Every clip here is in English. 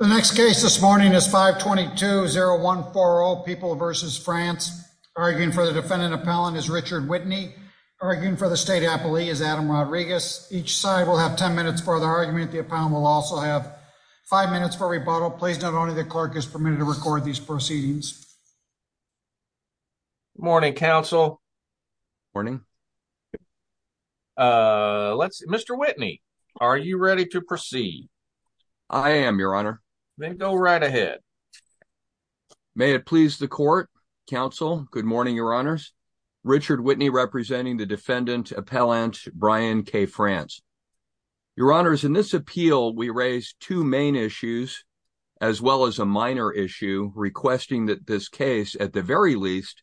The next case this morning is 522-0140 People v. France. Arguing for the defendant appellant is Richard Whitney. Arguing for the state appellee is Adam Rodriguez. Each side will have 10 minutes for the argument. The appellant will also have five minutes for rebuttal. Please note only the clerk is permitted to record these proceedings. Good morning, counsel. Good morning. Mr. Whitney, are you ready to proceed? I am, your honor. Then go right ahead. May it please the court, counsel. Good morning, your honors. Richard Whitney, representing the defendant appellant Brian K. France. Your honors, in this appeal, we raise two main issues as well as a minor issue requesting that this case, at the very least,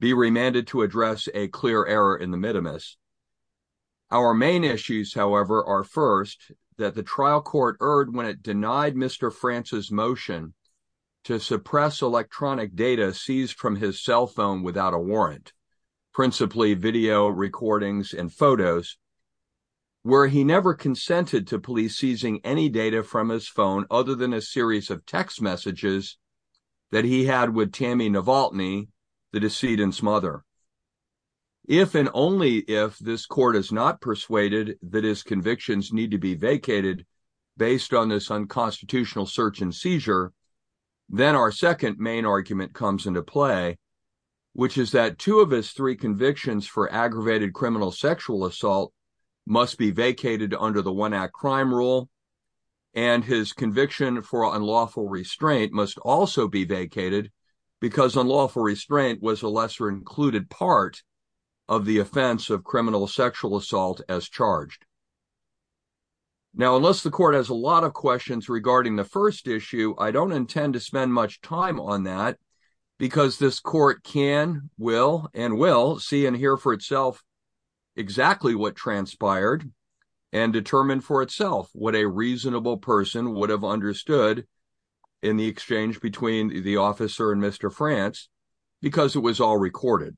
be remanded to address a clear error in the mitimus. Our main issues, however, are first that the trial court erred when it denied Mr. France's motion to suppress electronic data seized from his cell phone without a warrant, principally video recordings and photos, where he never consented to police seizing any data from his phone other than a series of text smother. If and only if this court is not persuaded that his convictions need to be vacated based on this unconstitutional search and seizure, then our second main argument comes into play, which is that two of his three convictions for aggravated criminal sexual assault must be vacated under the One Act Crime Rule, and his conviction for unlawful restraint must also be vacated because unlawful restraint was a lesser included part of the offense of criminal sexual assault as charged. Now, unless the court has a lot of questions regarding the first issue, I don't intend to spend much time on that because this court can, will, and will see and hear for itself exactly what transpired and determine for itself what a reasonable person would have understood in the exchange between the officer and Mr. France because it was all recorded.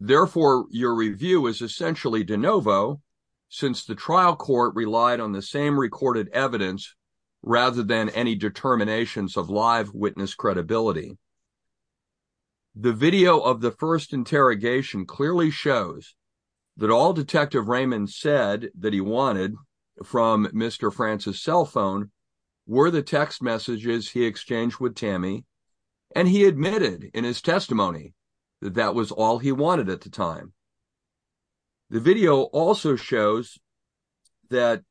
Therefore, your review is essentially de novo since the trial court relied on the same recorded evidence rather than any determinations of live witness credibility. The video of the first interrogation clearly shows that all Detective Raymond said that he wanted from Mr. France's cell phone were the text messages he exchanged with Tammy, and he admitted in his testimony that that was all he wanted at the time. The video also shows that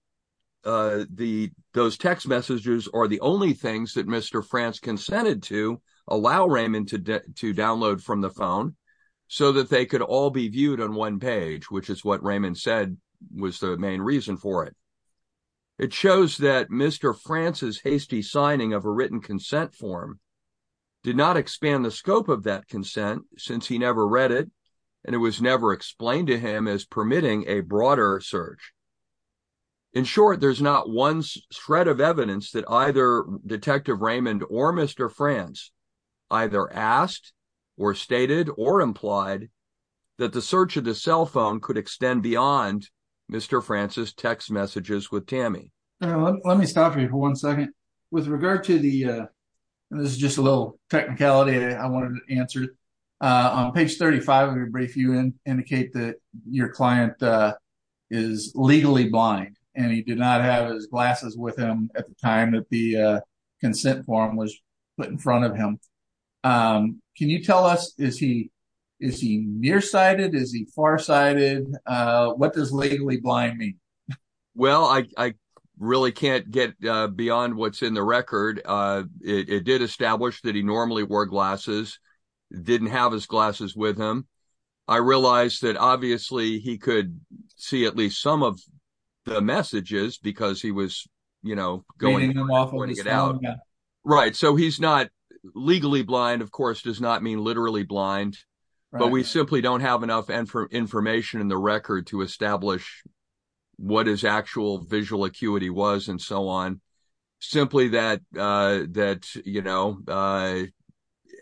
those text messages are the only things that Mr. France consented to allow Raymond to download from the phone so that they could all be viewed on one page, which is what Raymond said was the main reason for it. It shows that Mr. France's hasty signing of a written consent form did not expand the scope of that consent since he never read it, and it was never explained to him as permitting a broader search. In short, there's not one shred of evidence that either Detective Raymond or Mr. France either asked or stated or implied that the search of the cell phone could extend beyond Mr. France's text messages with Tammy. Let me stop you for one second. With regard to the, this is just a little technicality I wanted to answer. On page 35 of your brief, you indicate that your client is legally blind and he did not have his glasses with him at the time that the consent form was put in front of him. Can you tell us, is he nearsighted? Is he farsighted? What does legally blind mean? Well, I really can't get beyond what's in the record. It did establish that he normally wore glasses, didn't have his glasses with him. I realized that obviously he could see at least some of the messages because he was, you know, going to get out. Right. So he's not legally blind, of course, does not mean literally blind, but we simply don't have enough information in the record to establish what his actual visual acuity was and so on. Simply that, you know,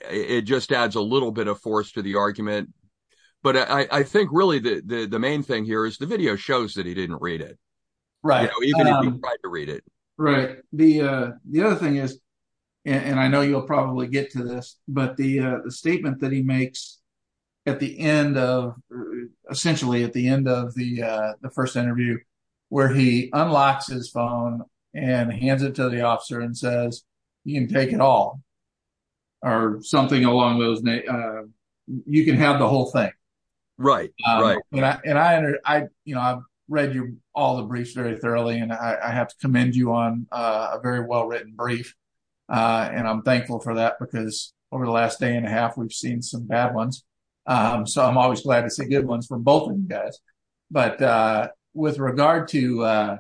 it just adds a little bit of force to the argument. But I think really the main thing here is the video shows that he didn't read it. Right. The other thing is, and I know you'll probably get to this, but the statement that he makes at the end of, essentially at the end of the first interview, where he unlocks his phone and hands it to the officer and says, you can take it all or something along those names. You can have the whole thing. Right. Right. And I, you know, I've read all the briefs very thoroughly, and I have to commend you on a very well written brief. And I'm thankful for that because over the last day and a half, we've seen some bad ones. So I'm always glad to see good ones from both of you guys. But with regard to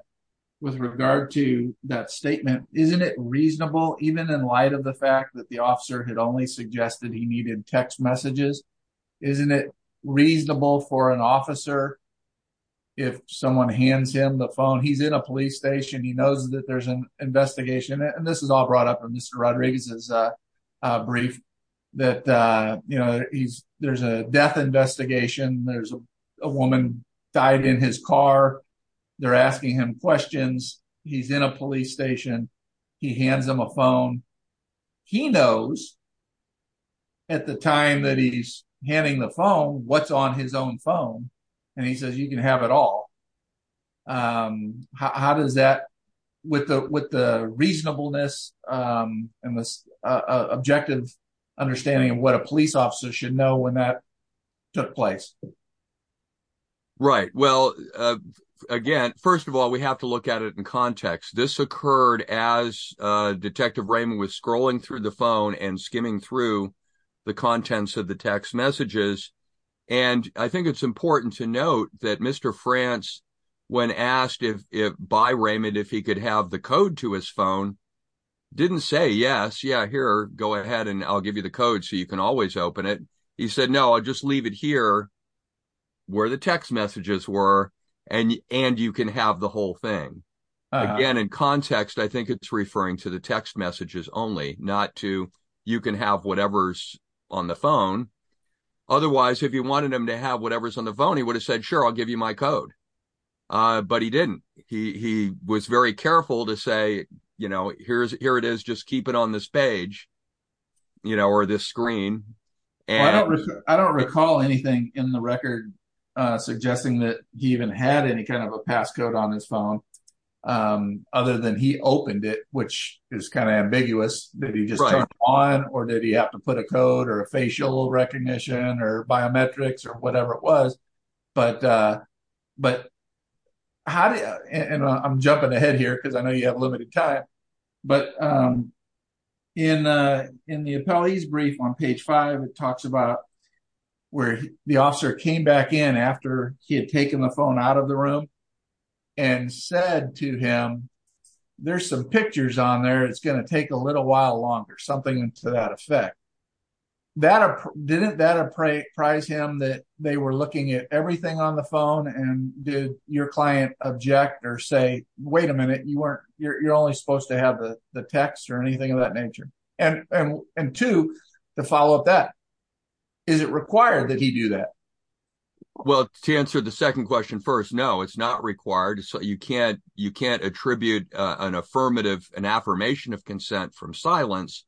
with regard to that statement, isn't it reasonable, even in light of the fact that the officer had only suggested he needed text messages? Isn't it reasonable for an officer? If someone hands him the phone, he's in a police station, he knows that there's an investigation. And this is all brought up in Mr. Rodriguez's brief, that, you know, he's there's a death investigation. There's a woman died in his car. They're asking him questions. He's in a police station. He hands him a phone. He knows at the time that he's handing the phone what's on his own phone. And he says, you can have it all. How does that with the with the reasonableness and this objective understanding of what a police officer should know when that took place? Right. Well, again, first of all, we have to look at it in context. This occurred as Detective Raymond was scrolling through the phone and skimming through the contents of the text messages. And I think it's important to note that Mr. France, when asked if by Raymond, if he could have the code to his phone, didn't say yes. Yeah, here, go ahead and I'll give you the code so you can always open it. He said, no, I'll just leave it here where the text messages were. And and you can have the whole thing again in context. I think it's referring to the text messages only not to you can have whatever's on the phone. Otherwise, if you wanted him to have whatever's on the phone, he would have said, sure, I'll give you my code. But he didn't. He was very careful to say, you know, here's here it is. Just keep it on this page, you know, or this screen. And I don't recall anything in the record suggesting that he even had any kind of a passcode on his phone other than he opened it, which is kind of ambiguous. Did he just turn it on or did he have to put a code or a facial recognition or biometrics or whatever it was? But but how did and I'm jumping ahead here because I know you have time. But in in the appellees brief on page five, it talks about where the officer came back in after he had taken the phone out of the room and said to him, there's some pictures on there, it's going to take a little while longer, something to that effect. That didn't that prize him that they were looking at everything on the phone and did your client object or say, wait a minute, you weren't you're only supposed to have the text or anything of that nature. And to follow up that, is it required that he do that? Well, to answer the second question first, no, it's not required. So you can't you can't attribute an affirmative an affirmation of consent from silence.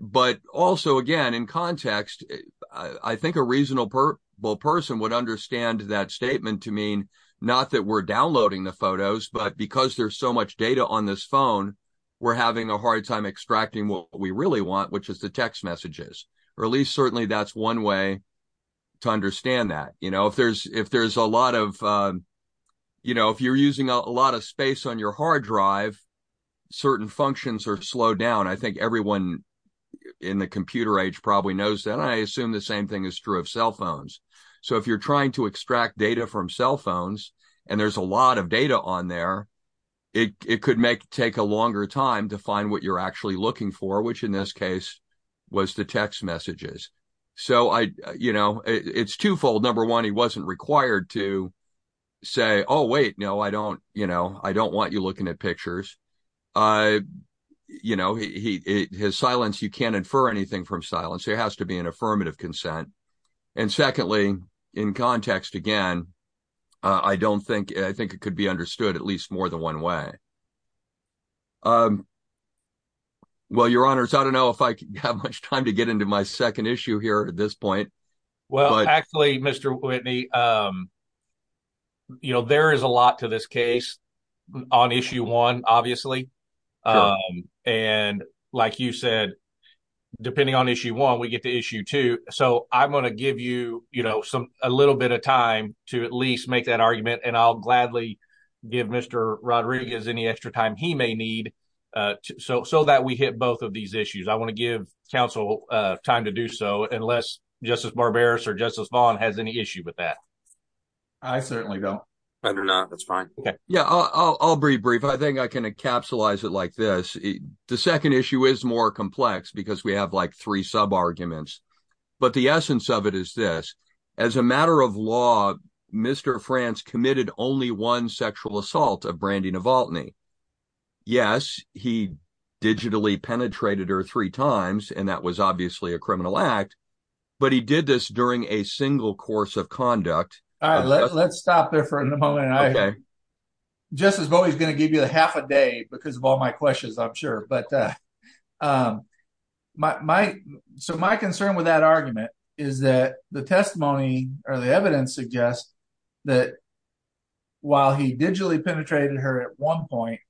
But also, again, in context, I think a reasonable person would understand that statement to mean not that we're downloading the photos, but because there's so much data on this phone, we're having a hard time extracting what we really want, which is the text messages, or at least certainly that's one way to understand that, you know, if there's if there's a lot of, you know, if you're using a lot of space on your hard drive, certain functions are slowed down. I think everyone in the computer age probably knows that I assume the same thing is true of cell phones. So if you're trying to extract data from cell phones, and there's a lot of data on there, it could make take a longer time to find what you're actually looking for, which in this case, was the text messages. So I, you know, it's twofold. Number one, he wasn't required to say, oh, wait, no, I don't, you know, I don't want you looking at pictures. You know, he his silence, you can't infer anything from silence, there has to be an and secondly, in context, again, I don't think I think it could be understood at least more than one way. Well, your honors, I don't know if I have much time to get into my second issue here at this point. Well, actually, Mr. Whitney, you know, there is a lot to this case, on issue one, obviously. And like you said, depending on issue one, we get to issue two. So I'm going to give you you know, some a little bit of time to at least make that argument. And I'll gladly give Mr. Rodriguez any extra time he may need. So so that we hit both of these issues. I want to give counsel time to do so unless Justice Barbaros or Justice Vaughn has any issue with that. I certainly don't. That's fine. Yeah, I'll be brief. I think I can encapsulate it like this. The second issue is more complex because we have like three sub arguments. But the essence of it is this. As a matter of law, Mr. France committed only one sexual assault of Brandy Novotny. Yes, he digitally penetrated her three times. And that was obviously a criminal act. But he did this during a single course of conduct. All right, let's stop there for a moment. Just as always going to give you the half a day because of all my questions, I'm sure but my so my concern with that argument is that the testimony or the evidence suggests that while he digitally penetrated her at one point,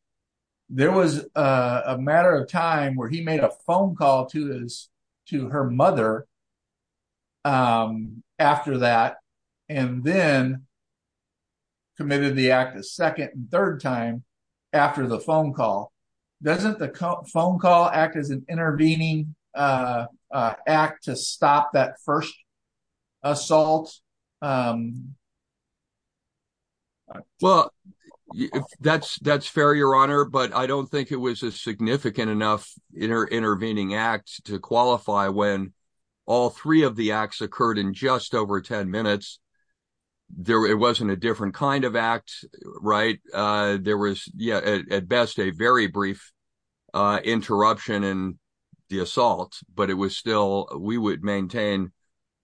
there was a matter of time where he made a phone to his to her mother after that, and then committed the act a second and third time after the phone call. Doesn't the phone call act as an intervening act to stop that first assault? Well, that's that's fair, Your Honor, but I don't think it was a significant enough intervening act to qualify when all three of the acts occurred in just over 10 minutes. It wasn't a different kind of act, right? There was, yeah, at best a very brief interruption in the assault, but it was still we would maintain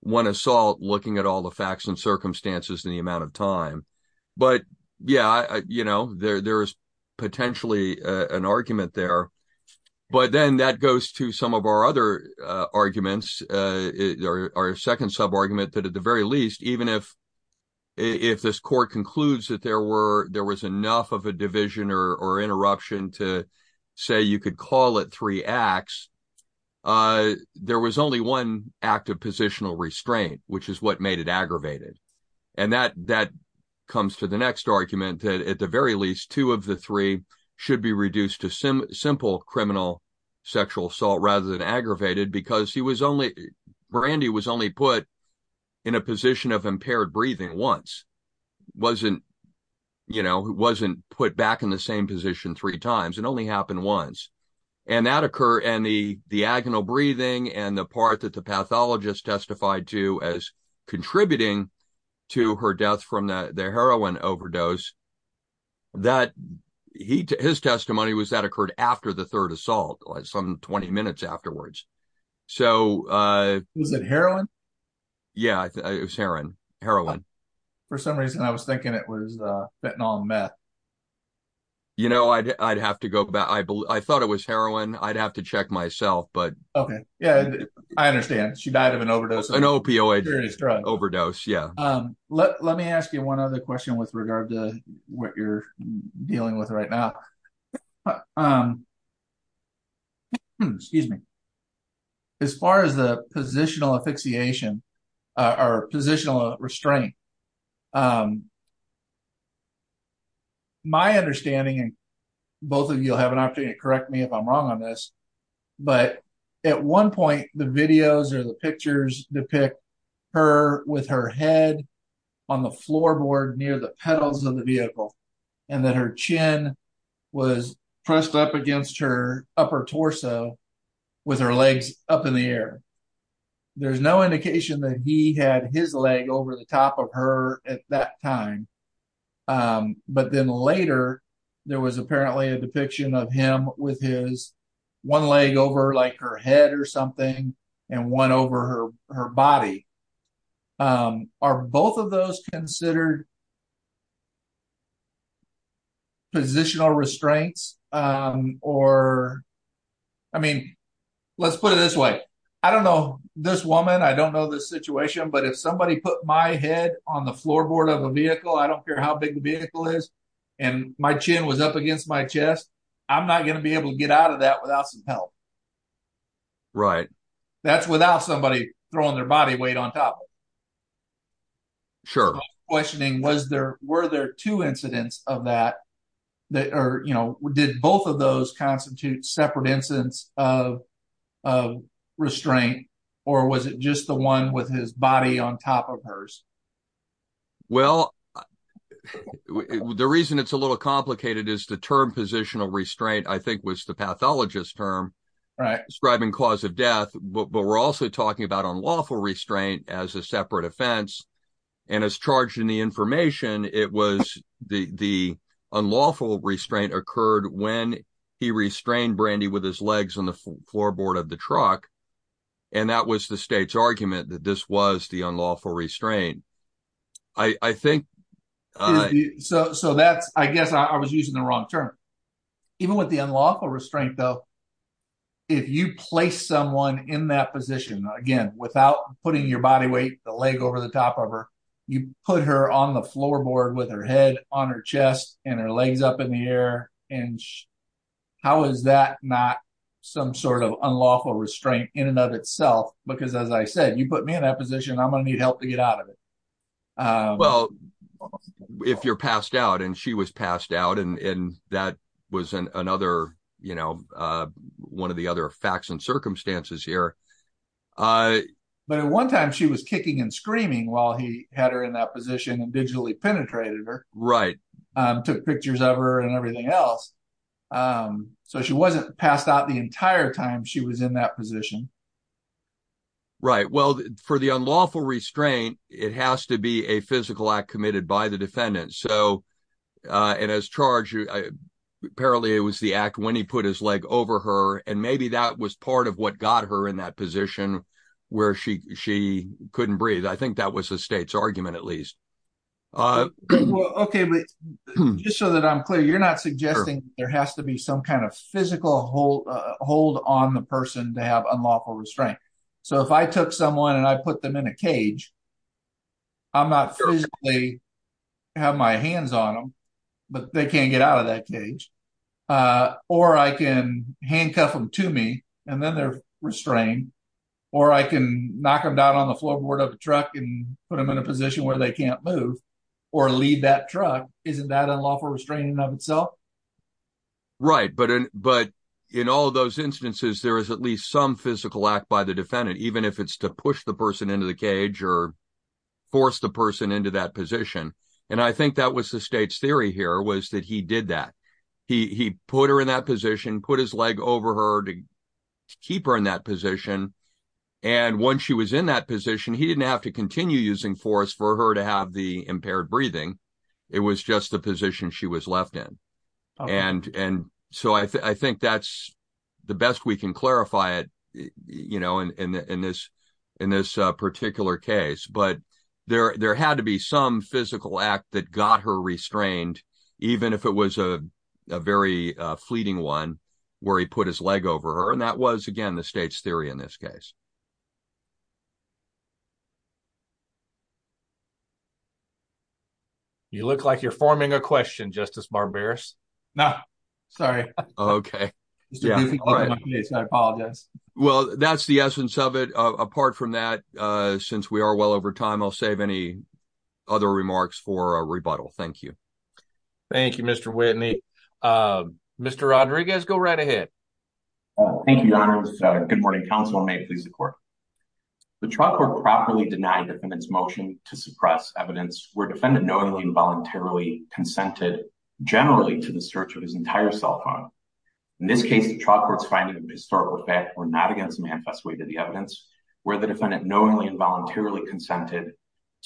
one assault looking at all the facts and circumstances in the amount of time. But yeah, you know, there's potentially an argument there. But then that goes to some of our other arguments, our second sub argument that at the very least, even if if this court concludes that there were there was enough of a division or interruption to say you could call it three acts, there was only one act of positional restraint, which is what made it aggravated. And that that comes to the next argument that at the very least, two of the three should be reduced to simple criminal sexual assault rather than aggravated because he was only Brandy was only put in a position of impaired breathing once wasn't, you know, wasn't put back in the same position three times. It only happened once. And that occur and the the agonal breathing and the part that the pathologist testified to as contributing to her death from the heroin overdose. That his testimony was that occurred after the third assault, some 20 minutes afterwards. So was it heroin? Yeah, it was heroin, heroin. For some reason, I was thinking it was fentanyl meth. You know, I'd have to go back. I thought it was heroin. I'd have to check myself. But OK, yeah, I understand. She died of an opioid overdose. Yeah. Let me ask you one other question with regard to what you're dealing with right now. Excuse me. As far as the positional asphyxiation, our positional restraint. My understanding, both of you have an opportunity to correct me if I'm wrong on this. But at one point, the videos or the pictures depict her with her head on the floorboard near the pedals of the vehicle and that her chin was pressed up against her upper torso with her legs up in the air. There's no indication that he had his leg over the top of her at that time. Um, but then later there was apparently a depiction of him with his one leg over like her head or something and one over her body. Are both of those considered? Positional restraints or. I mean, let's put it this way. I don't know this woman. I don't care how big the vehicle is and my chin was up against my chest. I'm not going to be able to get out of that without some help. Right, that's without somebody throwing their body weight on top. Sure. Questioning was there were there two incidents of that that are, you know, did both of those constitute separate incidents of of restraint or was it just the one with his body on top of hers? Well, the reason it's a little complicated is the term positional restraint, I think, was the pathologist term describing cause of death. But we're also talking about unlawful restraint as a separate offense. And as charged in the information, it was the unlawful restraint occurred when he restrained Brandy with his legs on the floorboard of the truck. And that was the state's argument that this was the unlawful restraint. I think so. So that's I guess I was using the wrong term. Even with the unlawful restraint, though, if you place someone in that position again, without putting your body weight, the leg over the top of her, you put her on the floorboard with her head on her chest and her some sort of unlawful restraint in and of itself. Because as I said, you put me in that position, I'm going to need help to get out of it. Well, if you're passed out, and she was passed out, and that was another, you know, one of the other facts and circumstances here. But at one time, she was kicking and screaming while he had her in that position and digitally penetrated her. Right. Took pictures of her and everything else. So she wasn't passed out the entire time she was in that position. Right. Well, for the unlawful restraint, it has to be a physical act committed by the defendant. So and as charged, apparently, it was the act when he put his leg over her. And maybe that was part of what got her in that position where she couldn't breathe. I think that was the state's Okay, but just so that I'm clear, you're not suggesting there has to be some kind of physical hold, hold on the person to have unlawful restraint. So if I took someone and I put them in a cage, I'm not physically have my hands on them. But they can't get out of that cage. Or I can handcuff them to me, and then they're restrained. Or I can knock them down on the truck and put them in a position where they can't move or leave that truck. Isn't that a lawful restraining of itself? Right. But but in all those instances, there is at least some physical act by the defendant, even if it's to push the person into the cage or force the person into that position. And I think that was the state's theory here was that he did that. He put her in that position, put his leg over her to keep her in that position. And once she was in that position, he didn't have to continue using force for her to have the impaired breathing. It was just the position she was left in. And and so I think that's the best we can clarify it, you know, in this, in this particular case, but there there had to be some physical act that got her restrained, even if it was a very fleeting one, where he put his leg over her. And that was, again, the state's theory in this case. You look like you're forming a question, Justice Barberis. No, sorry. Okay. I apologize. Well, that's the essence of it. Apart from that, since we are well over time, I'll save any other remarks for rebuttal. Thank you. Thank you, Mr. Whitney. Mr. Rodriguez, go right ahead. Thank you, Your Honor. Good morning, counsel. May it please the court. The trial court properly denied the defendant's motion to suppress evidence where defendant knowingly and voluntarily consented generally to the search of his entire cell phone. In this case, the trial court's findings of historical fact were not against manifest way to the evidence where the defendant knowingly and voluntarily consented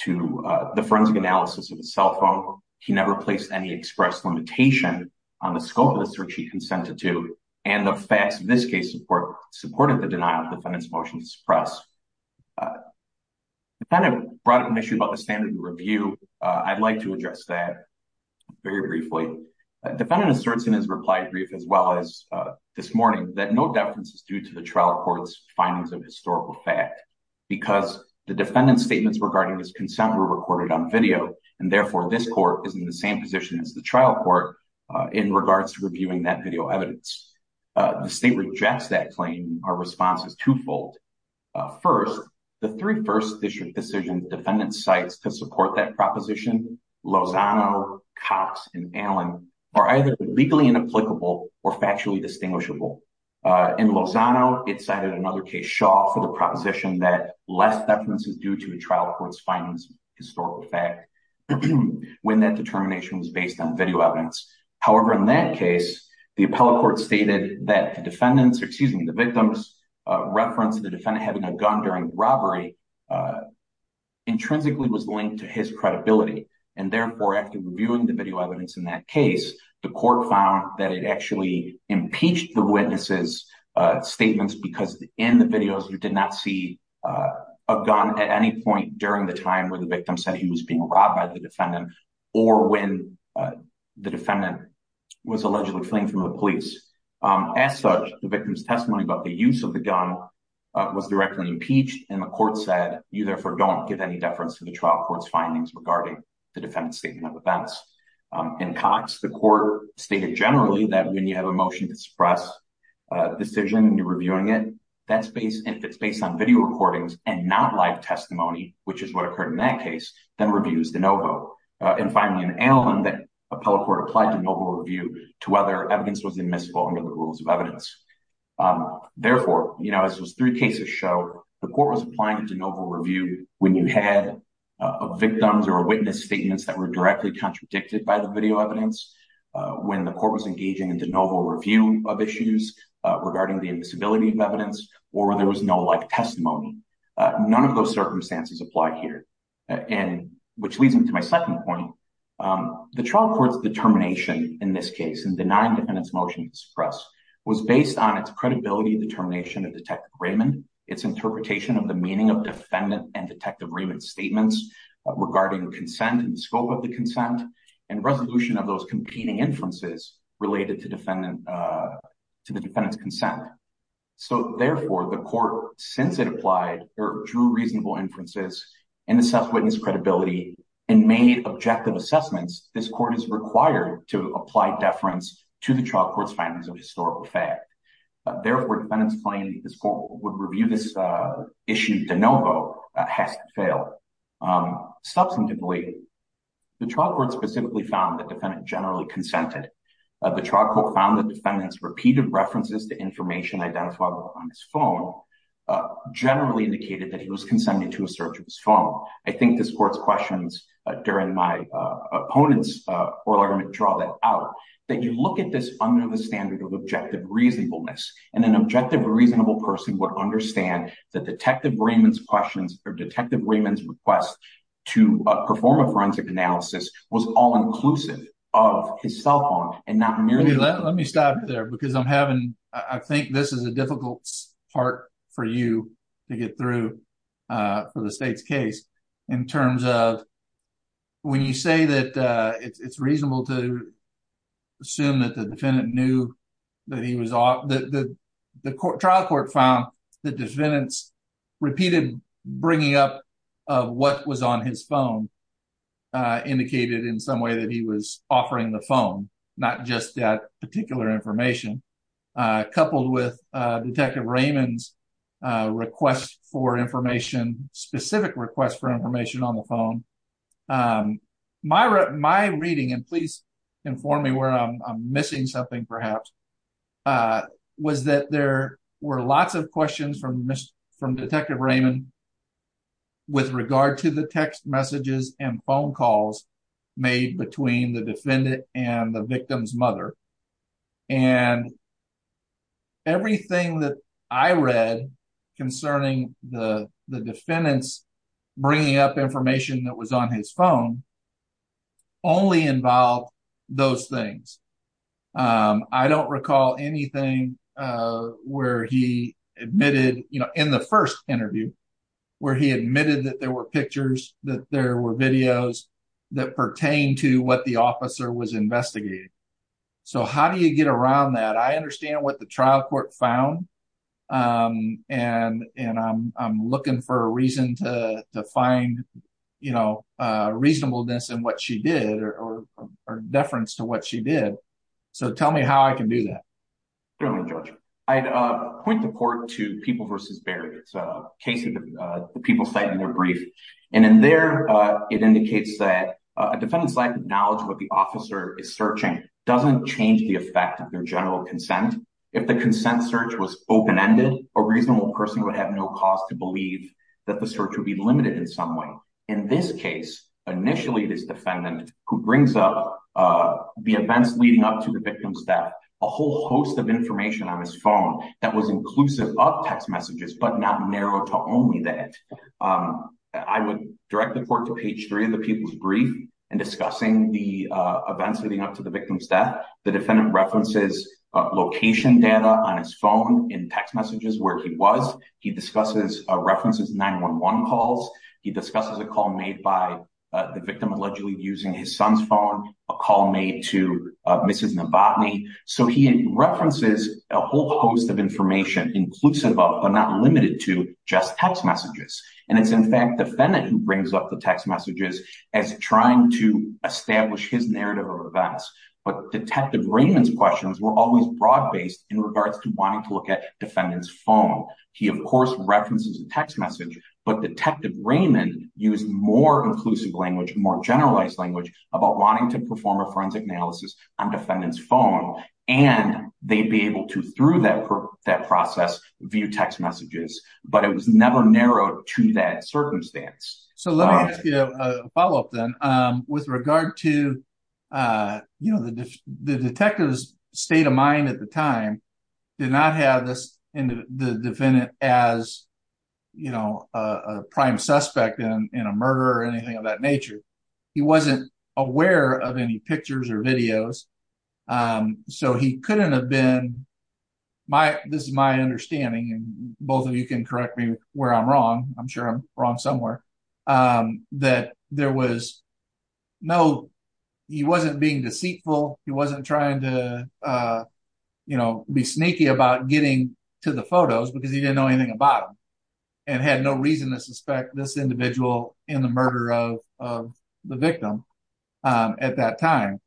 to the forensic analysis of his cell phone. He never placed any express limitation on the scope of the search he consented to, and the facts in this case supported the denial of the defendant's motion to suppress. The defendant brought up an issue about the standard of review. I'd like to address that very briefly. The defendant asserts in his reply brief as well as this morning that no deference is due to the trial court's findings of historical fact because the defendant's consent were recorded on video, and therefore this court is in the same position as the trial court in regards to reviewing that video evidence. The state rejects that claim. Our response is twofold. First, the three first district decision defendant sites to support that proposition, Lozano, Cox, and Allen, are either legally inapplicable or factually distinguishable. In Lozano, it cited another case, Shaw, for the proposition that less deference is due to a trial court's findings of historical fact when that determination was based on video evidence. However, in that case, the appellate court stated that the victim's reference to the defendant having a gun during robbery intrinsically was linked to his credibility, and therefore, after reviewing the video evidence in that case, the court found that it actually impeached the said he was being robbed by the defendant or when the defendant was allegedly fleeing from the police. As such, the victim's testimony about the use of the gun was directly impeached, and the court said, you therefore don't give any deference to the trial court's findings regarding the defendant's statement of events. In Cox, the court stated generally that when you have a motion to suppress a decision and you're reviewing it, that's based on video recordings and not live testimony, which is what occurred in that case, then review is de novo. And finally, in Allen, the appellate court applied de novo review to whether evidence was admissible under the rules of evidence. Therefore, you know, as those three cases show, the court was applying a de novo review when you had victims or witness statements that were directly contradicted by the video evidence, when the court was engaging in de novo review of issues regarding the invisibility of none of those circumstances apply here. And which leads me to my second point, the trial court's determination in this case and denying defendants motion to suppress was based on its credibility determination of detective Raymond, its interpretation of the meaning of defendant and detective Raymond statements regarding consent and scope of the consent and resolution of those competing inferences related to defendant to the defendant's consent. So therefore, the court, since it applied or drew reasonable inferences and assess witness credibility and made objective assessments, this court is required to apply deference to the trial court's findings of historical fact. Therefore, defendants claim this court would review this issue de novo has to fail. Substantively, the trial court specifically found that defendant generally consented. The trial court found that defendants repeated references to information identifiable on his phone generally indicated that he was consented to a search of his phone. I think this court's questions during my opponent's oral argument draw that out, that you look at this under the standard of objective reasonableness, and an objective reasonable person would understand that detective Raymond's questions or detective Raymond's request to perform a forensic analysis was all inclusive of his cell because I'm having, I think this is a difficult part for you to get through for the state's case in terms of when you say that it's reasonable to assume that the defendant knew that he was off, that the trial court found the defendants repeated bringing up of what was on his phone indicated in some way that he was offering the phone, not just that particular information, coupled with detective Raymond's request for information, specific request for information on the phone. My reading, and please inform me where I'm missing something perhaps, was that there were lots of questions from detective Raymond with regard to the text messages and phone calls made between the defendant and the victim's mother, and everything that I read concerning the defendants bringing up information that was on his phone only involved those things. I don't recall anything where he admitted, you know, in the first interview, where he admitted that there were pictures, that there were videos that pertain to what the officer was investigating. So how do you get around that? I understand what the trial court found, and I'm looking for a reason to find, you know, reasonableness in what she did, or deference to what she did. So tell me how I can do that. Certainly, Judge. I'd point the court to People v. Barry. It's a case that the people cite in their brief, and in there it indicates that a defendant's lack of knowledge of what the officer is searching doesn't change the effect of their general consent. If the consent search was open-ended, a reasonable person would have no cause to believe that the search would be limited in some way. In this case, initially this defendant who brings up the events leading up to the victim's death, a whole host of information on his phone that was inclusive of text messages but not narrow to only that. I would direct the court to page 3 of the people's brief in discussing the events leading up to the victim's death. The defendant references location data on his phone in text messages where he was. He discusses references to 911 calls. He discusses a call made by the victim. He references a whole host of information inclusive of, but not limited to, just text messages. It's in fact the defendant who brings up the text messages as trying to establish his narrative of events, but Detective Raymond's questions were always broad-based in regards to wanting to look at the defendant's phone. He, of course, references a text message, but Detective Raymond used more inclusive language, more generalized language about wanting to perform a forensic analysis on defendant's phone, and they'd be able to, through that process, view text messages, but it was never narrowed to that circumstance. So let me ask you a follow-up then. With regard to, you know, the detective's state of mind at the time did not have the defendant as, you know, a prime suspect in a murder or anything of that any pictures or videos, so he couldn't have been my, this is my understanding, and both of you can correct me where I'm wrong, I'm sure I'm wrong somewhere, that there was no, he wasn't being deceitful, he wasn't trying to, you know, be sneaky about getting to the photos because he didn't know anything about them and had no reason to suspect this individual in the murder of the at that time,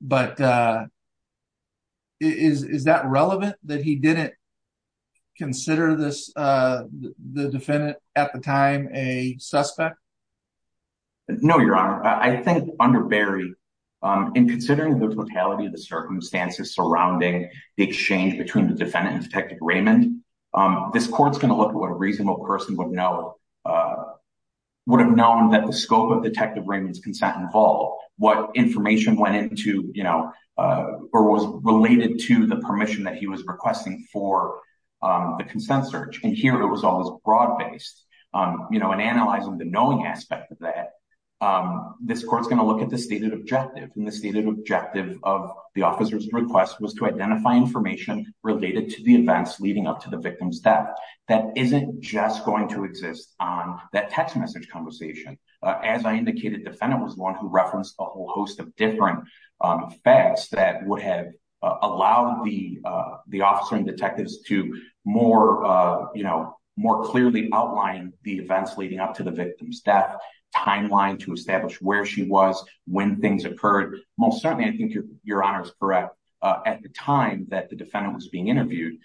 but is that relevant, that he didn't consider this, the defendant at the time, a suspect? No, your honor. I think under Barry, in considering the totality of the circumstances surrounding the exchange between the defendant and Detective Raymond, this court's going to look at what a reasonable person would know, would have known that the scope of Detective Raymond's involved, what information went into, you know, or was related to the permission that he was requesting for the consent search, and here it was all this broad-based, you know, and analyzing the knowing aspect of that, this court's going to look at the stated objective, and the stated objective of the officer's request was to identify information related to the events leading up to the victim's death. That isn't just going to exist on that text message conversation. As I indicated, the defendant was the one who referenced a whole host of different facts that would have allowed the officer and detectives to more, you know, more clearly outline the events leading up to the victim's death, timeline to establish where she was, when things occurred. Most certainly, I think your honor is correct, at the time that the defendant was being interviewed,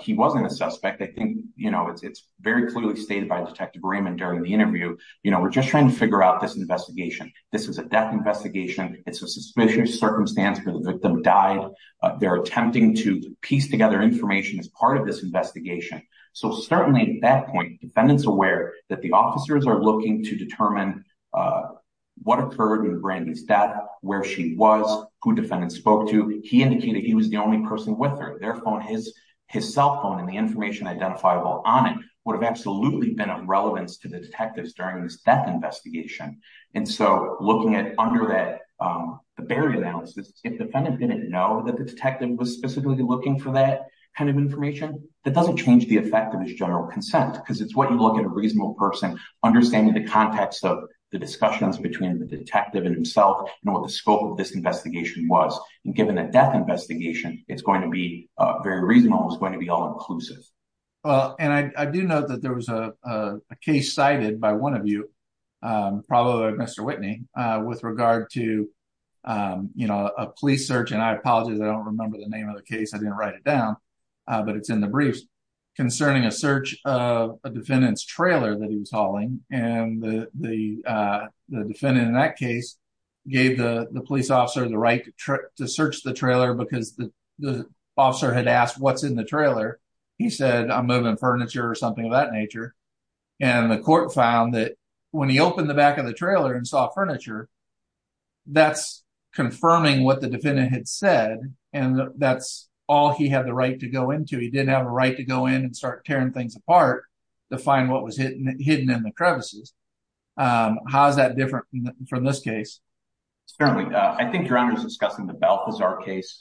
he wasn't a suspect. I think, you know, it's very clearly stated by Detective Raymond during the interview, you know, we're just trying to figure out this investigation. This is a death investigation. It's a suspicious circumstance where the victim died. They're attempting to piece together information as part of this investigation. So certainly, at that point, the defendant's aware that the officers are looking to determine what occurred with Brandy's death, where she was, who defendant spoke to. He indicated he was the only person with her. Their phone, his cell phone, and the information identifiable on it would have absolutely been of relevance to the detectives during this death investigation. And so, looking at under that, the barrier analysis, if the defendant didn't know that the detective was specifically looking for that kind of information, that doesn't change the effect of his general consent, because it's what you look at a reasonable person, understanding the context of the discussions between the detective and himself, and what the scope of this investigation was. And given that death investigation, it's going to be very reasonable, it's going to be all inclusive. Well, and I do know that there was a case cited by one of you, probably by Mr. Whitney, with regard to a police search, and I apologize, I don't remember the name of the case, I didn't write it down, but it's in the briefs, concerning a search of a defendant's trailer that he was hauling. And the defendant in that case gave the police officer the right to search the trailer because the officer had asked what's in the trailer. He said, I'm moving furniture or something of that nature. And the court found that when he opened the back of the trailer and saw furniture, that's confirming what the defendant had said, and that's all he had the right to go into. He didn't have a right to go in and start tearing things apart to find what was hidden in the crevices. How is that different from this case? Certainly. I think Your Honor is discussing the Belfazard case.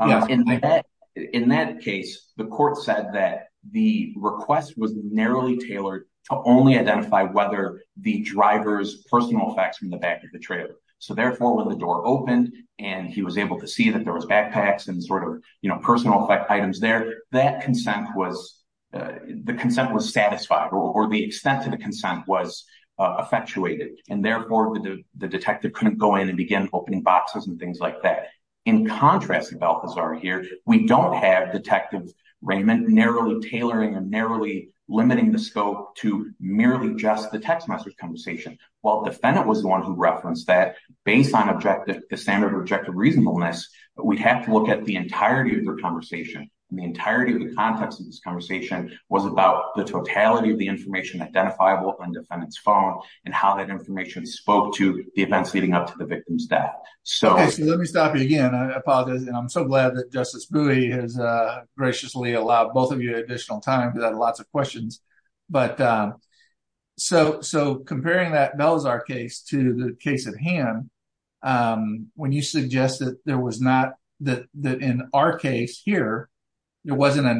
In that case, the court said that the request was narrowly tailored to only identify whether the driver's personal effects from the back of the trailer. So therefore, when the door opened and he was able to see that there was backpacks and sort of personal effect items there, that consent was satisfied, or the extent of the opening boxes and things like that. In contrast to Belfazard here, we don't have Detective Raymond narrowly tailoring and narrowly limiting the scope to merely just the text message conversation. While the defendant was the one who referenced that, based on the standard of objective reasonableness, we'd have to look at the entirety of the conversation. And the entirety of the context of this conversation was about the totality of the information identifiable on the victim's back. Let me stop you again. I apologize. And I'm so glad that Justice Bowie has graciously allowed both of you additional time because I have lots of questions. So comparing that Belfazard case to the case at hand, when you suggested that in our case here, it wasn't a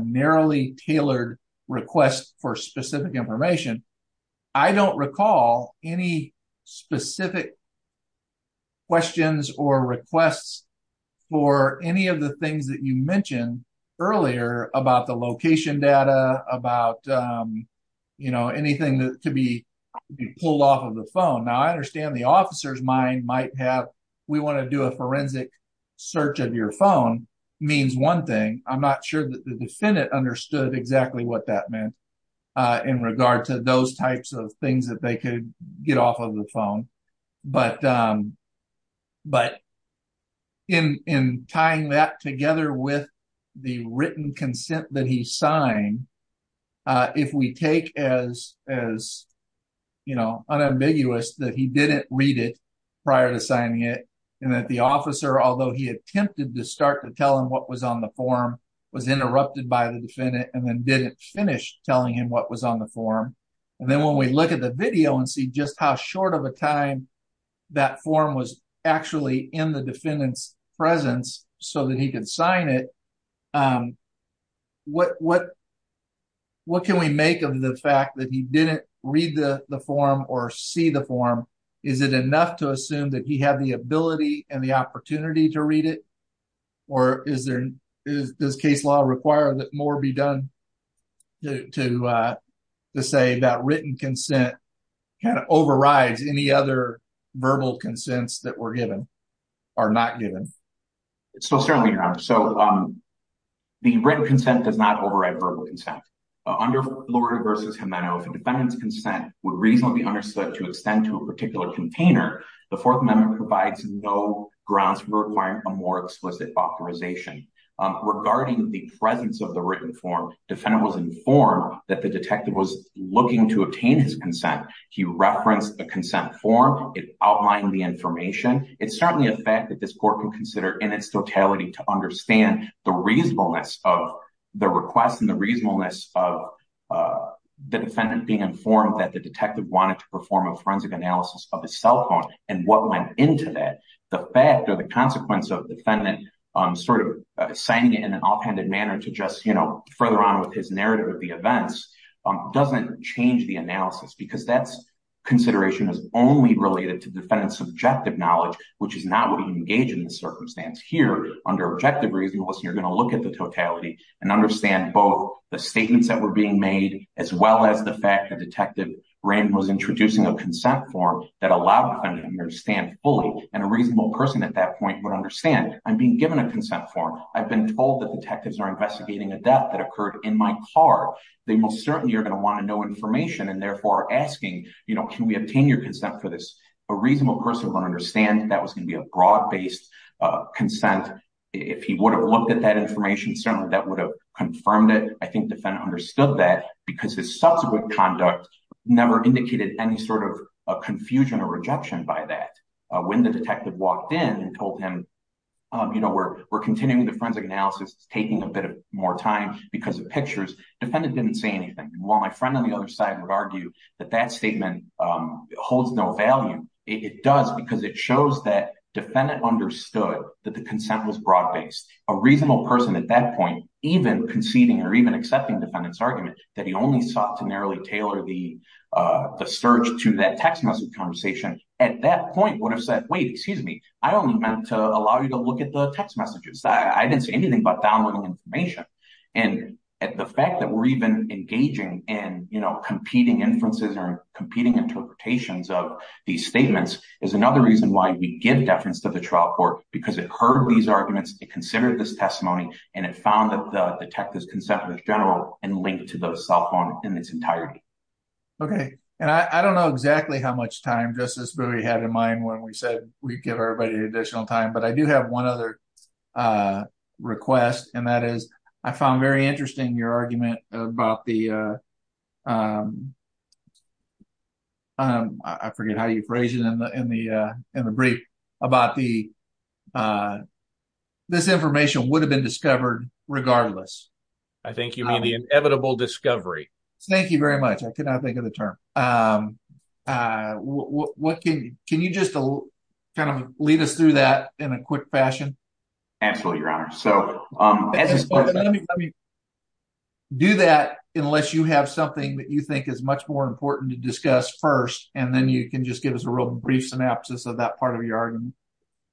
narrowly tailored request for specific information, I don't recall any specific questions or requests for any of the things that you mentioned earlier about the location data, about anything that could be pulled off of the phone. Now I understand the officer's mind might have, we want to do a forensic search of your phone, means one thing. I'm not sure that the defendant understood exactly what that meant in regard to those types of things that they could get off of the phone. But in tying that together with the written consent that he signed, uh, if we take as, as, you know, unambiguous that he didn't read it prior to signing it, and that the officer, although he attempted to start to tell him what was on the form, was interrupted by the defendant and then didn't finish telling him what was on the form. And then when we look at the video and see just how short of a time that form was actually in the defendant's signed it, um, what, what, what can we make of the fact that he didn't read the form or see the form? Is it enough to assume that he had the ability and the opportunity to read it? Or is there, does case law require that more be done to, uh, to say that written consent kind of overrides any other verbal consents that were given or not given? So certainly not. So, um, the written consent does not override verbal consent. Under Florida v. Gimeno, if a defendant's consent would reasonably be understood to extend to a particular container, the Fourth Amendment provides no grounds for requiring a more explicit authorization. Regarding the presence of the written form, defendant was informed that the detective was looking to obtain his consent. He referenced the consent form. It outlined the information. It's certainly a fact that this court can consider in its totality to understand the reasonableness of the request and the reasonableness of, uh, the defendant being informed that the detective wanted to perform a forensic analysis of his cell phone and what went into that. The fact or the consequence of defendant, um, sort of signing it in an offhanded manner to just, you know, further on with his consideration is only related to defendant's subjective knowledge, which is not what he engaged in the circumstance here under objective reasonableness. You're going to look at the totality and understand both the statements that were being made, as well as the fact that detective Rand was introducing a consent form that allowed him to understand fully and a reasonable person at that point would understand I'm being given a consent form. I've been told that detectives are investigating a death that occurred in my car. They most certainly are going to want information and therefore asking, you know, can we obtain your consent for this? A reasonable person would understand that was going to be a broad based, uh, consent. If he would have looked at that information, certainly that would have confirmed it. I think defendant understood that because his subsequent conduct never indicated any sort of confusion or rejection by that. When the detective walked in and told him, um, you know, we're, we're continuing the forensic analysis. It's taking a bit more time because of pictures. Defendant didn't say anything. While my friend on the other side would argue that that statement, um, holds no value. It does because it shows that defendant understood that the consent was broad based. A reasonable person at that point, even conceding or even accepting defendant's argument that he only sought to narrowly tailor the, uh, the search to that text message conversation at that point would have said, wait, excuse me. I only meant to allow you to look at the text messages. I didn't say anything about downloading information. And the fact that we're even engaging in, you know, competing inferences or competing interpretations of these statements is another reason why we give deference to the trial court because it heard these arguments, it considered this testimony, and it found that the detective's consent was general and linked to the cell phone in its entirety. Okay. And I don't know exactly how much time Justice Brewer had in mind when we said we'd everybody an additional time, but I do have one other request, and that is I found very interesting your argument about the, um, um, I forget how you phrase it in the, uh, in the brief about the, uh, this information would have been discovered regardless. I think you mean the inevitable discovery. Thank you very much. I could not think of the term. Um, uh, what can you, just to kind of lead us through that in a quick fashion? Absolutely, Your Honor. So, um, do that unless you have something that you think is much more important to discuss first, and then you can just give us a real brief synopsis of that part of your argument.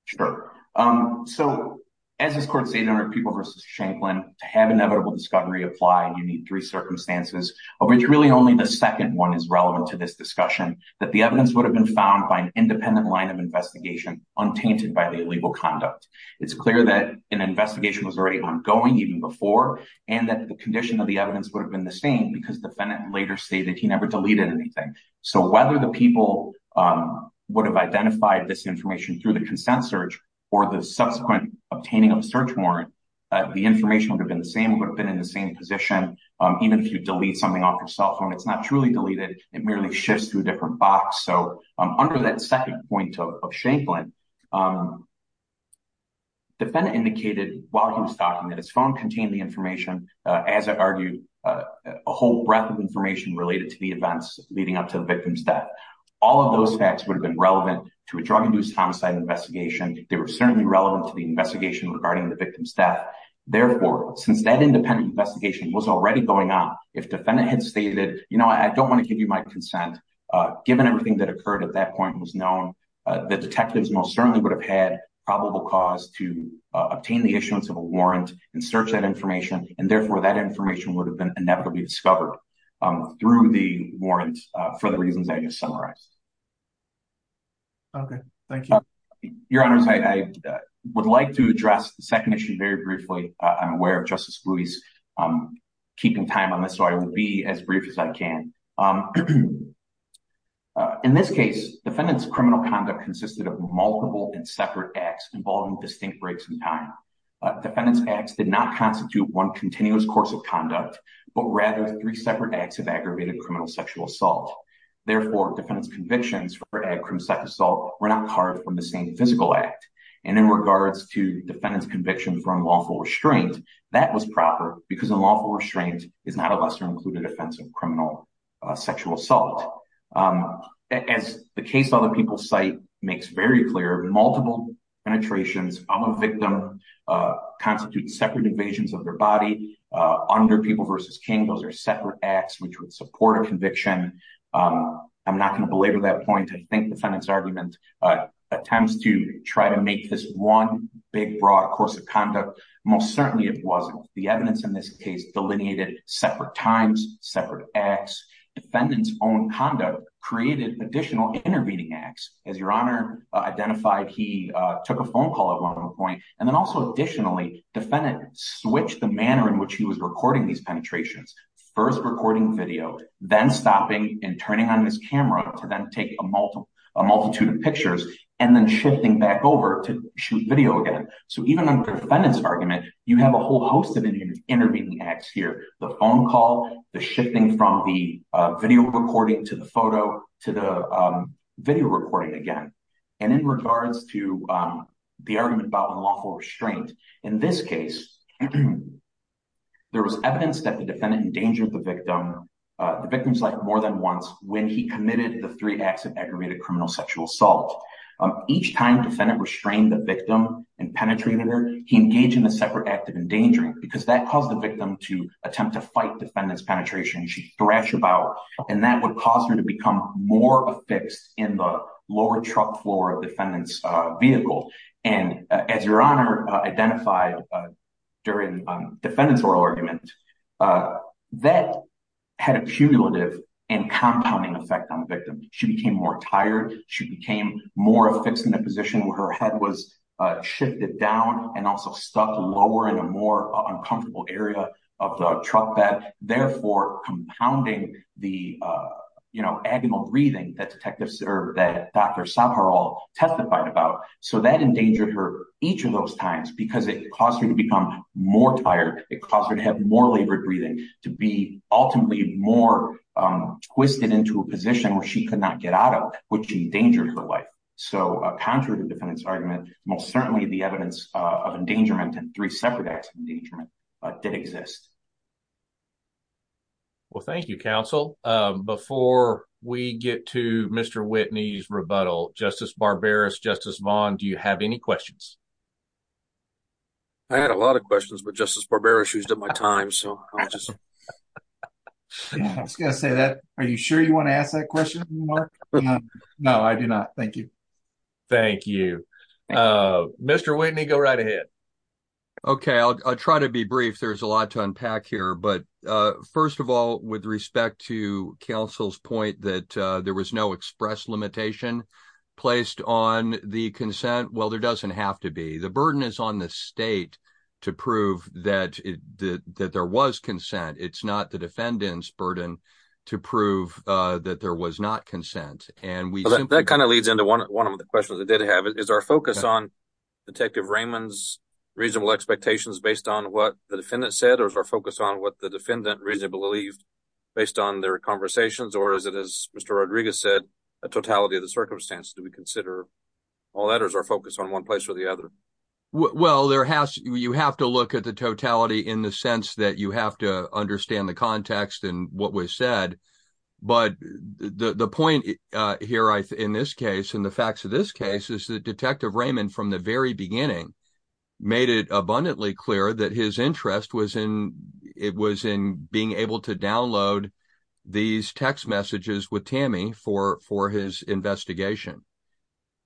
Sure. Um, so as this court stated, under People v. Shanklin, to have inevitable discovery apply, you need three circumstances, of which really only the second one is relevant to this discussion, that the evidence would have been found by an independent line of investigation untainted by the illegal conduct. It's clear that an investigation was already ongoing even before, and that the condition of the evidence would have been the same because the defendant later stated he never deleted anything. So, whether the people, um, would have identified this information through the consent search or the subsequent obtaining of a search warrant, uh, the information would have been the same, would have been in the same position. Um, even if you delete something it's not truly deleted, it merely shifts through a different box. So, um, under that second point of Shanklin, um, the defendant indicated while he was talking that his phone contained the information, uh, as I argued, uh, a whole breadth of information related to the events leading up to the victim's death. All of those facts would have been relevant to a drug-induced homicide investigation. They were certainly relevant to the investigation regarding the victim's death. Therefore, since that independent investigation was already going on, if defendant had stated, you know, I don't want to give you my consent, uh, given everything that occurred at that point was known, uh, the detectives most certainly would have had probable cause to, uh, obtain the issuance of a warrant and search that information, and therefore that information would have been inevitably discovered, um, through the warrant, uh, for the reasons I just summarized. Okay. Thank you. Your honors, I, I would like to address the second issue very briefly. I'm aware of Justice Louie's, um, keeping time on this, so I will be as brief as I can. Um, uh, in this case, defendant's criminal conduct consisted of multiple and separate acts involving distinct breaks in time. Uh, defendant's acts did not constitute one continuous course of conduct, but rather three separate acts of aggravated criminal sexual assault. Therefore, defendant's convictions for aggravated criminal sexual assault were not carved from the same physical act. And in regards to defendant's conviction for unlawful restraint, that was proper because unlawful restraint is not a lesser included offense of criminal, uh, sexual assault. Um, as the case other people cite makes very clear, multiple penetrations of a victim, uh, constitute separate invasions of their body, uh, under People v. King, those are separate acts which would support a conviction. Um, I'm not going to belabor that point. I think defendant's argument, uh, attempts to try to make this one big broad course of conduct. Most certainly it wasn't. The evidence in this case delineated separate times, separate acts. Defendant's own conduct created additional intervening acts. As your honor identified, he, uh, took a phone call at one point and then also additionally, defendant switched the manner in which he was recording these then stopping and turning on his camera to then take a multitude of pictures and then shifting back over to shoot video again. So even under defendant's argument, you have a whole host of intervening acts here. The phone call, the shifting from the, uh, video recording to the photo to the, um, video recording again. And in regards to, um, the argument about unlawful restraint, in this case, there was evidence that the defendant endangered the victim. Uh, the victim's life more than once when he committed the three acts of aggravated criminal sexual assault. Um, each time defendant restrained the victim and penetrated her, he engaged in a separate act of endangering because that caused the victim to attempt to fight defendant's penetration. She scratched her bowel and that would cause her to become more affixed in the identified, uh, during defendant's oral argument, uh, that had a cumulative and compounding effect on the victim. She became more tired. She became more affixed in a position where her head was, uh, shifted down and also stuck lower in a more uncomfortable area of the truck bed, therefore compounding the, uh, you know, agonal breathing that detectives or that Dr. Saharal testified about. So that endangered her each of those times because it caused her to become more tired. It caused her to have more labored breathing, to be ultimately more, um, twisted into a position where she could not get out of, which endangered her life. So, uh, contrary to defendant's argument, most certainly the evidence, uh, of endangerment and three separate acts of endangerment, uh, did exist. Well, thank you, counsel. Um, before we get to Mr. Whitney's rebuttal, Justice Barbaras, Justice Vaughn, do you have any questions? I had a lot of questions, but Justice Barbaras used up my time, so I'll just I was going to say that. Are you sure you want to ask that question, Mark? No, I do not. Thank you. Thank you. Uh, Mr. Whitney, go right ahead. Okay, I'll try to be brief. There's a lot to unpack here, but, uh, first of all, with respect to counsel's point that, uh, there was no express limitation placed on the consent. Well, there doesn't have to be. The burden is on the state to prove that that there was consent. It's not the defendant's burden to prove, uh, that there was not consent. And we... That kind of leads into one of the questions I did have. Is our focus on Detective Raymond's reasonable expectations based on what the defendant said, or is our focus on what the defendant reasonably believed based on their conversations, or is it, as Mr. Rodriguez said, a totality of the circumstance? Do we consider all that, or is our focus on one place or the other? Well, there has... you have to look at the totality in the sense that you have to hear, in this case, and the facts of this case, is that Detective Raymond, from the very beginning, made it abundantly clear that his interest was in... it was in being able to download these text messages with Tammy for... for his investigation.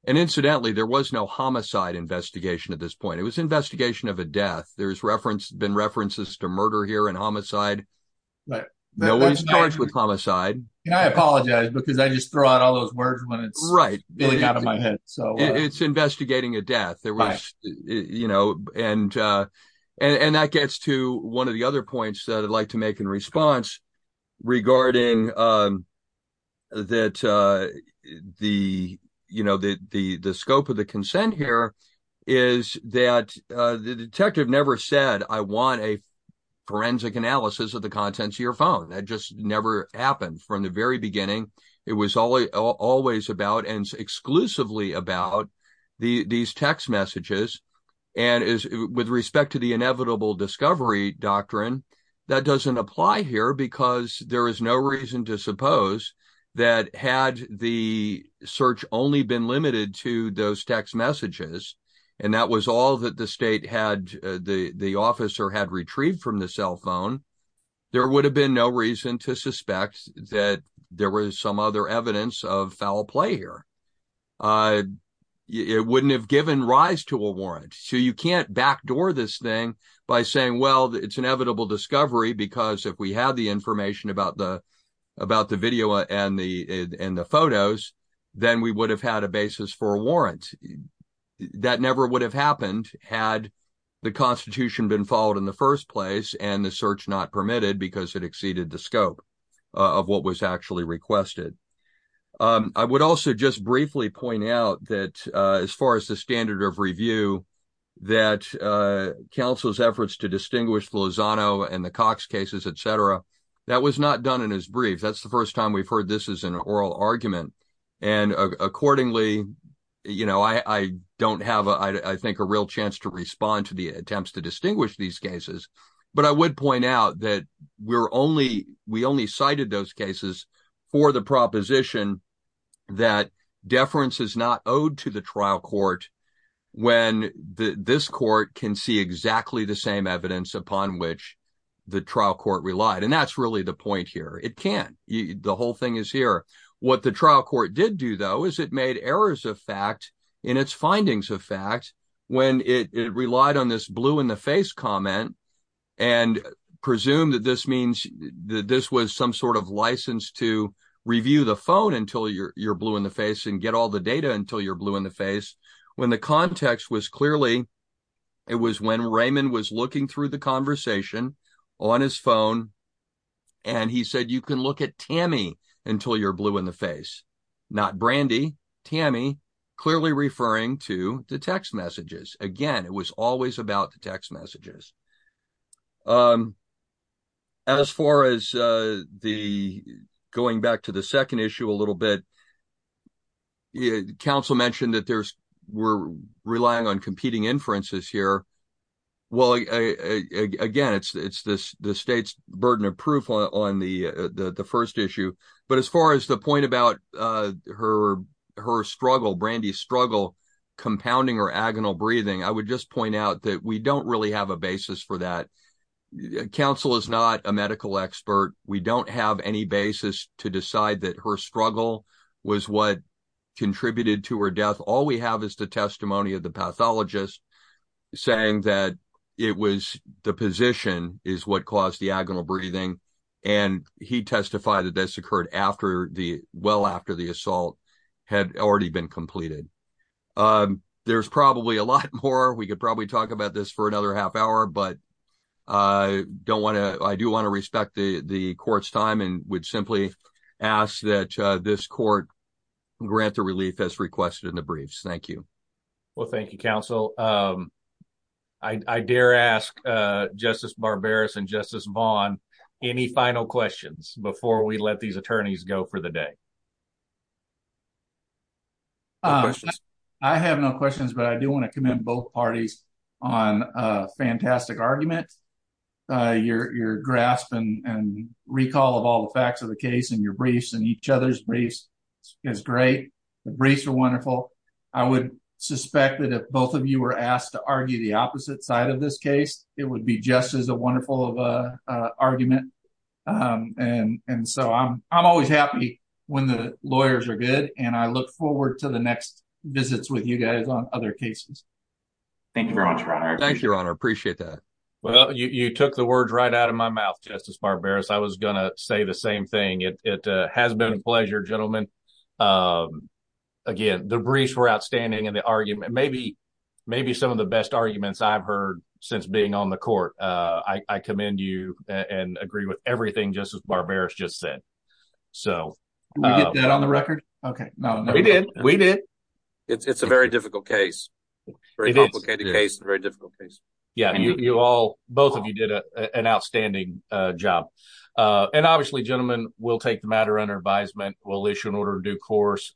And incidentally, there was no homicide investigation at this point. It was investigation of a death. There's reference... been references to murder here and homicide, but no one's charged with homicide. And I apologize because I just throw out all those words when it's really out of my head. So it's investigating a death. There was, you know, and... and that gets to one of the other points that I'd like to make in response regarding that the, you know, the... the scope of the consent here is that the detective never said, I want a forensic analysis of the contents of your phone. That just never happened from the very beginning. It was all... always about and exclusively about the... these text messages. And as with respect to the inevitable discovery doctrine, that doesn't apply here because there is no reason to suppose that had the search only been limited to those text messages, and that was all that the state had... the... the officer had retrieved from the cell phone, there would have been no reason to suspect that there was some other evidence of foul play here. It wouldn't have given rise to a warrant. So you can't backdoor this thing by saying, well, it's inevitable discovery because if we had the information about the... about the video and the... and the photos, then we would have had a basis for a warrant. That never would have happened had the Constitution been followed in the first place and the search not permitted because it exceeded the scope of what was actually requested. I would also just briefly point out that as far as the standard of review, that counsel's efforts to distinguish the Lozano and the Cox cases, etc., that was not done in his brief. That's the first time we've heard this as an oral argument. And accordingly, you know, I... I don't have, I think, a real chance to respond to the attempts to distinguish these cases, but I would point out that we're only... we only cited those cases for the proposition that deference is not owed to the trial court when the... this court can see exactly the same evidence upon which the trial court relied. And that's really the point here. It can't. The whole thing is here. What the trial court did do, though, is it made errors of fact in its findings of fact when it relied on this blue in the face comment and presumed that this means that this was some sort of license to review the phone until you're blue in the face and get all the data until you're blue in the face. When the context was clearly... it was when Raymond was looking through the conversation on his phone and he said you can look at Tammy until you're blue in the face, not Brandy. Tammy clearly referring to the text messages. Again, it was always about the text messages. As far as the... going back to the second issue a little bit, the counsel mentioned that there's... we're relying on competing inferences here. Well, again, it's this... the state's burden of proof on the first issue. But as far as the point about her struggle, Brandy's struggle, compounding her agonal breathing, I would just point out that we don't really have a basis for that. Counsel is not a medical expert. We don't have any basis to decide that her struggle was what contributed to her death. All we have is the testimony of the pathologist saying that it was the position is what caused the agonal breathing. And he testified that this occurred after the... well after the assault had already been completed. There's probably a lot more. We could probably talk about this for another half hour. But I don't want to... I do want to respect the court's time and would simply ask that this court grant the relief as requested in the briefs. Thank you. Well, thank you, counsel. I dare ask Justice Barberis and Justice Vaughn any final questions before we let these attorneys go for the day. I have no questions, but I do want to commend both parties on a fantastic argument. Your grasp and recall of all the facts of the case and your briefs and each other's briefs is great. The briefs are wonderful. I would suspect that if both of you were asked to argue the opposite side of this case, it would be just as a wonderful argument. And so I'm always happy when the lawyers are good. And I look forward to the next visits with you guys on other cases. Thank you very much, Your Honor. Thank you, Your Honor. Appreciate that. Well, you took the words right out of my mouth, Justice Barberis. I was gonna say the same thing. It has been a pleasure, gentlemen. Again, the briefs were outstanding and the argument... maybe some of the best arguments I've heard since being on the court. I commend you and agree with everything Justice Barberis just said. Did we get that on the record? Okay, no. We did. We did. It's a very difficult case. Very complicated case. Very difficult case. Yeah, you all... both of you did an outstanding job. And obviously, gentlemen, we'll take the matter under advisement. We'll issue an order of due course.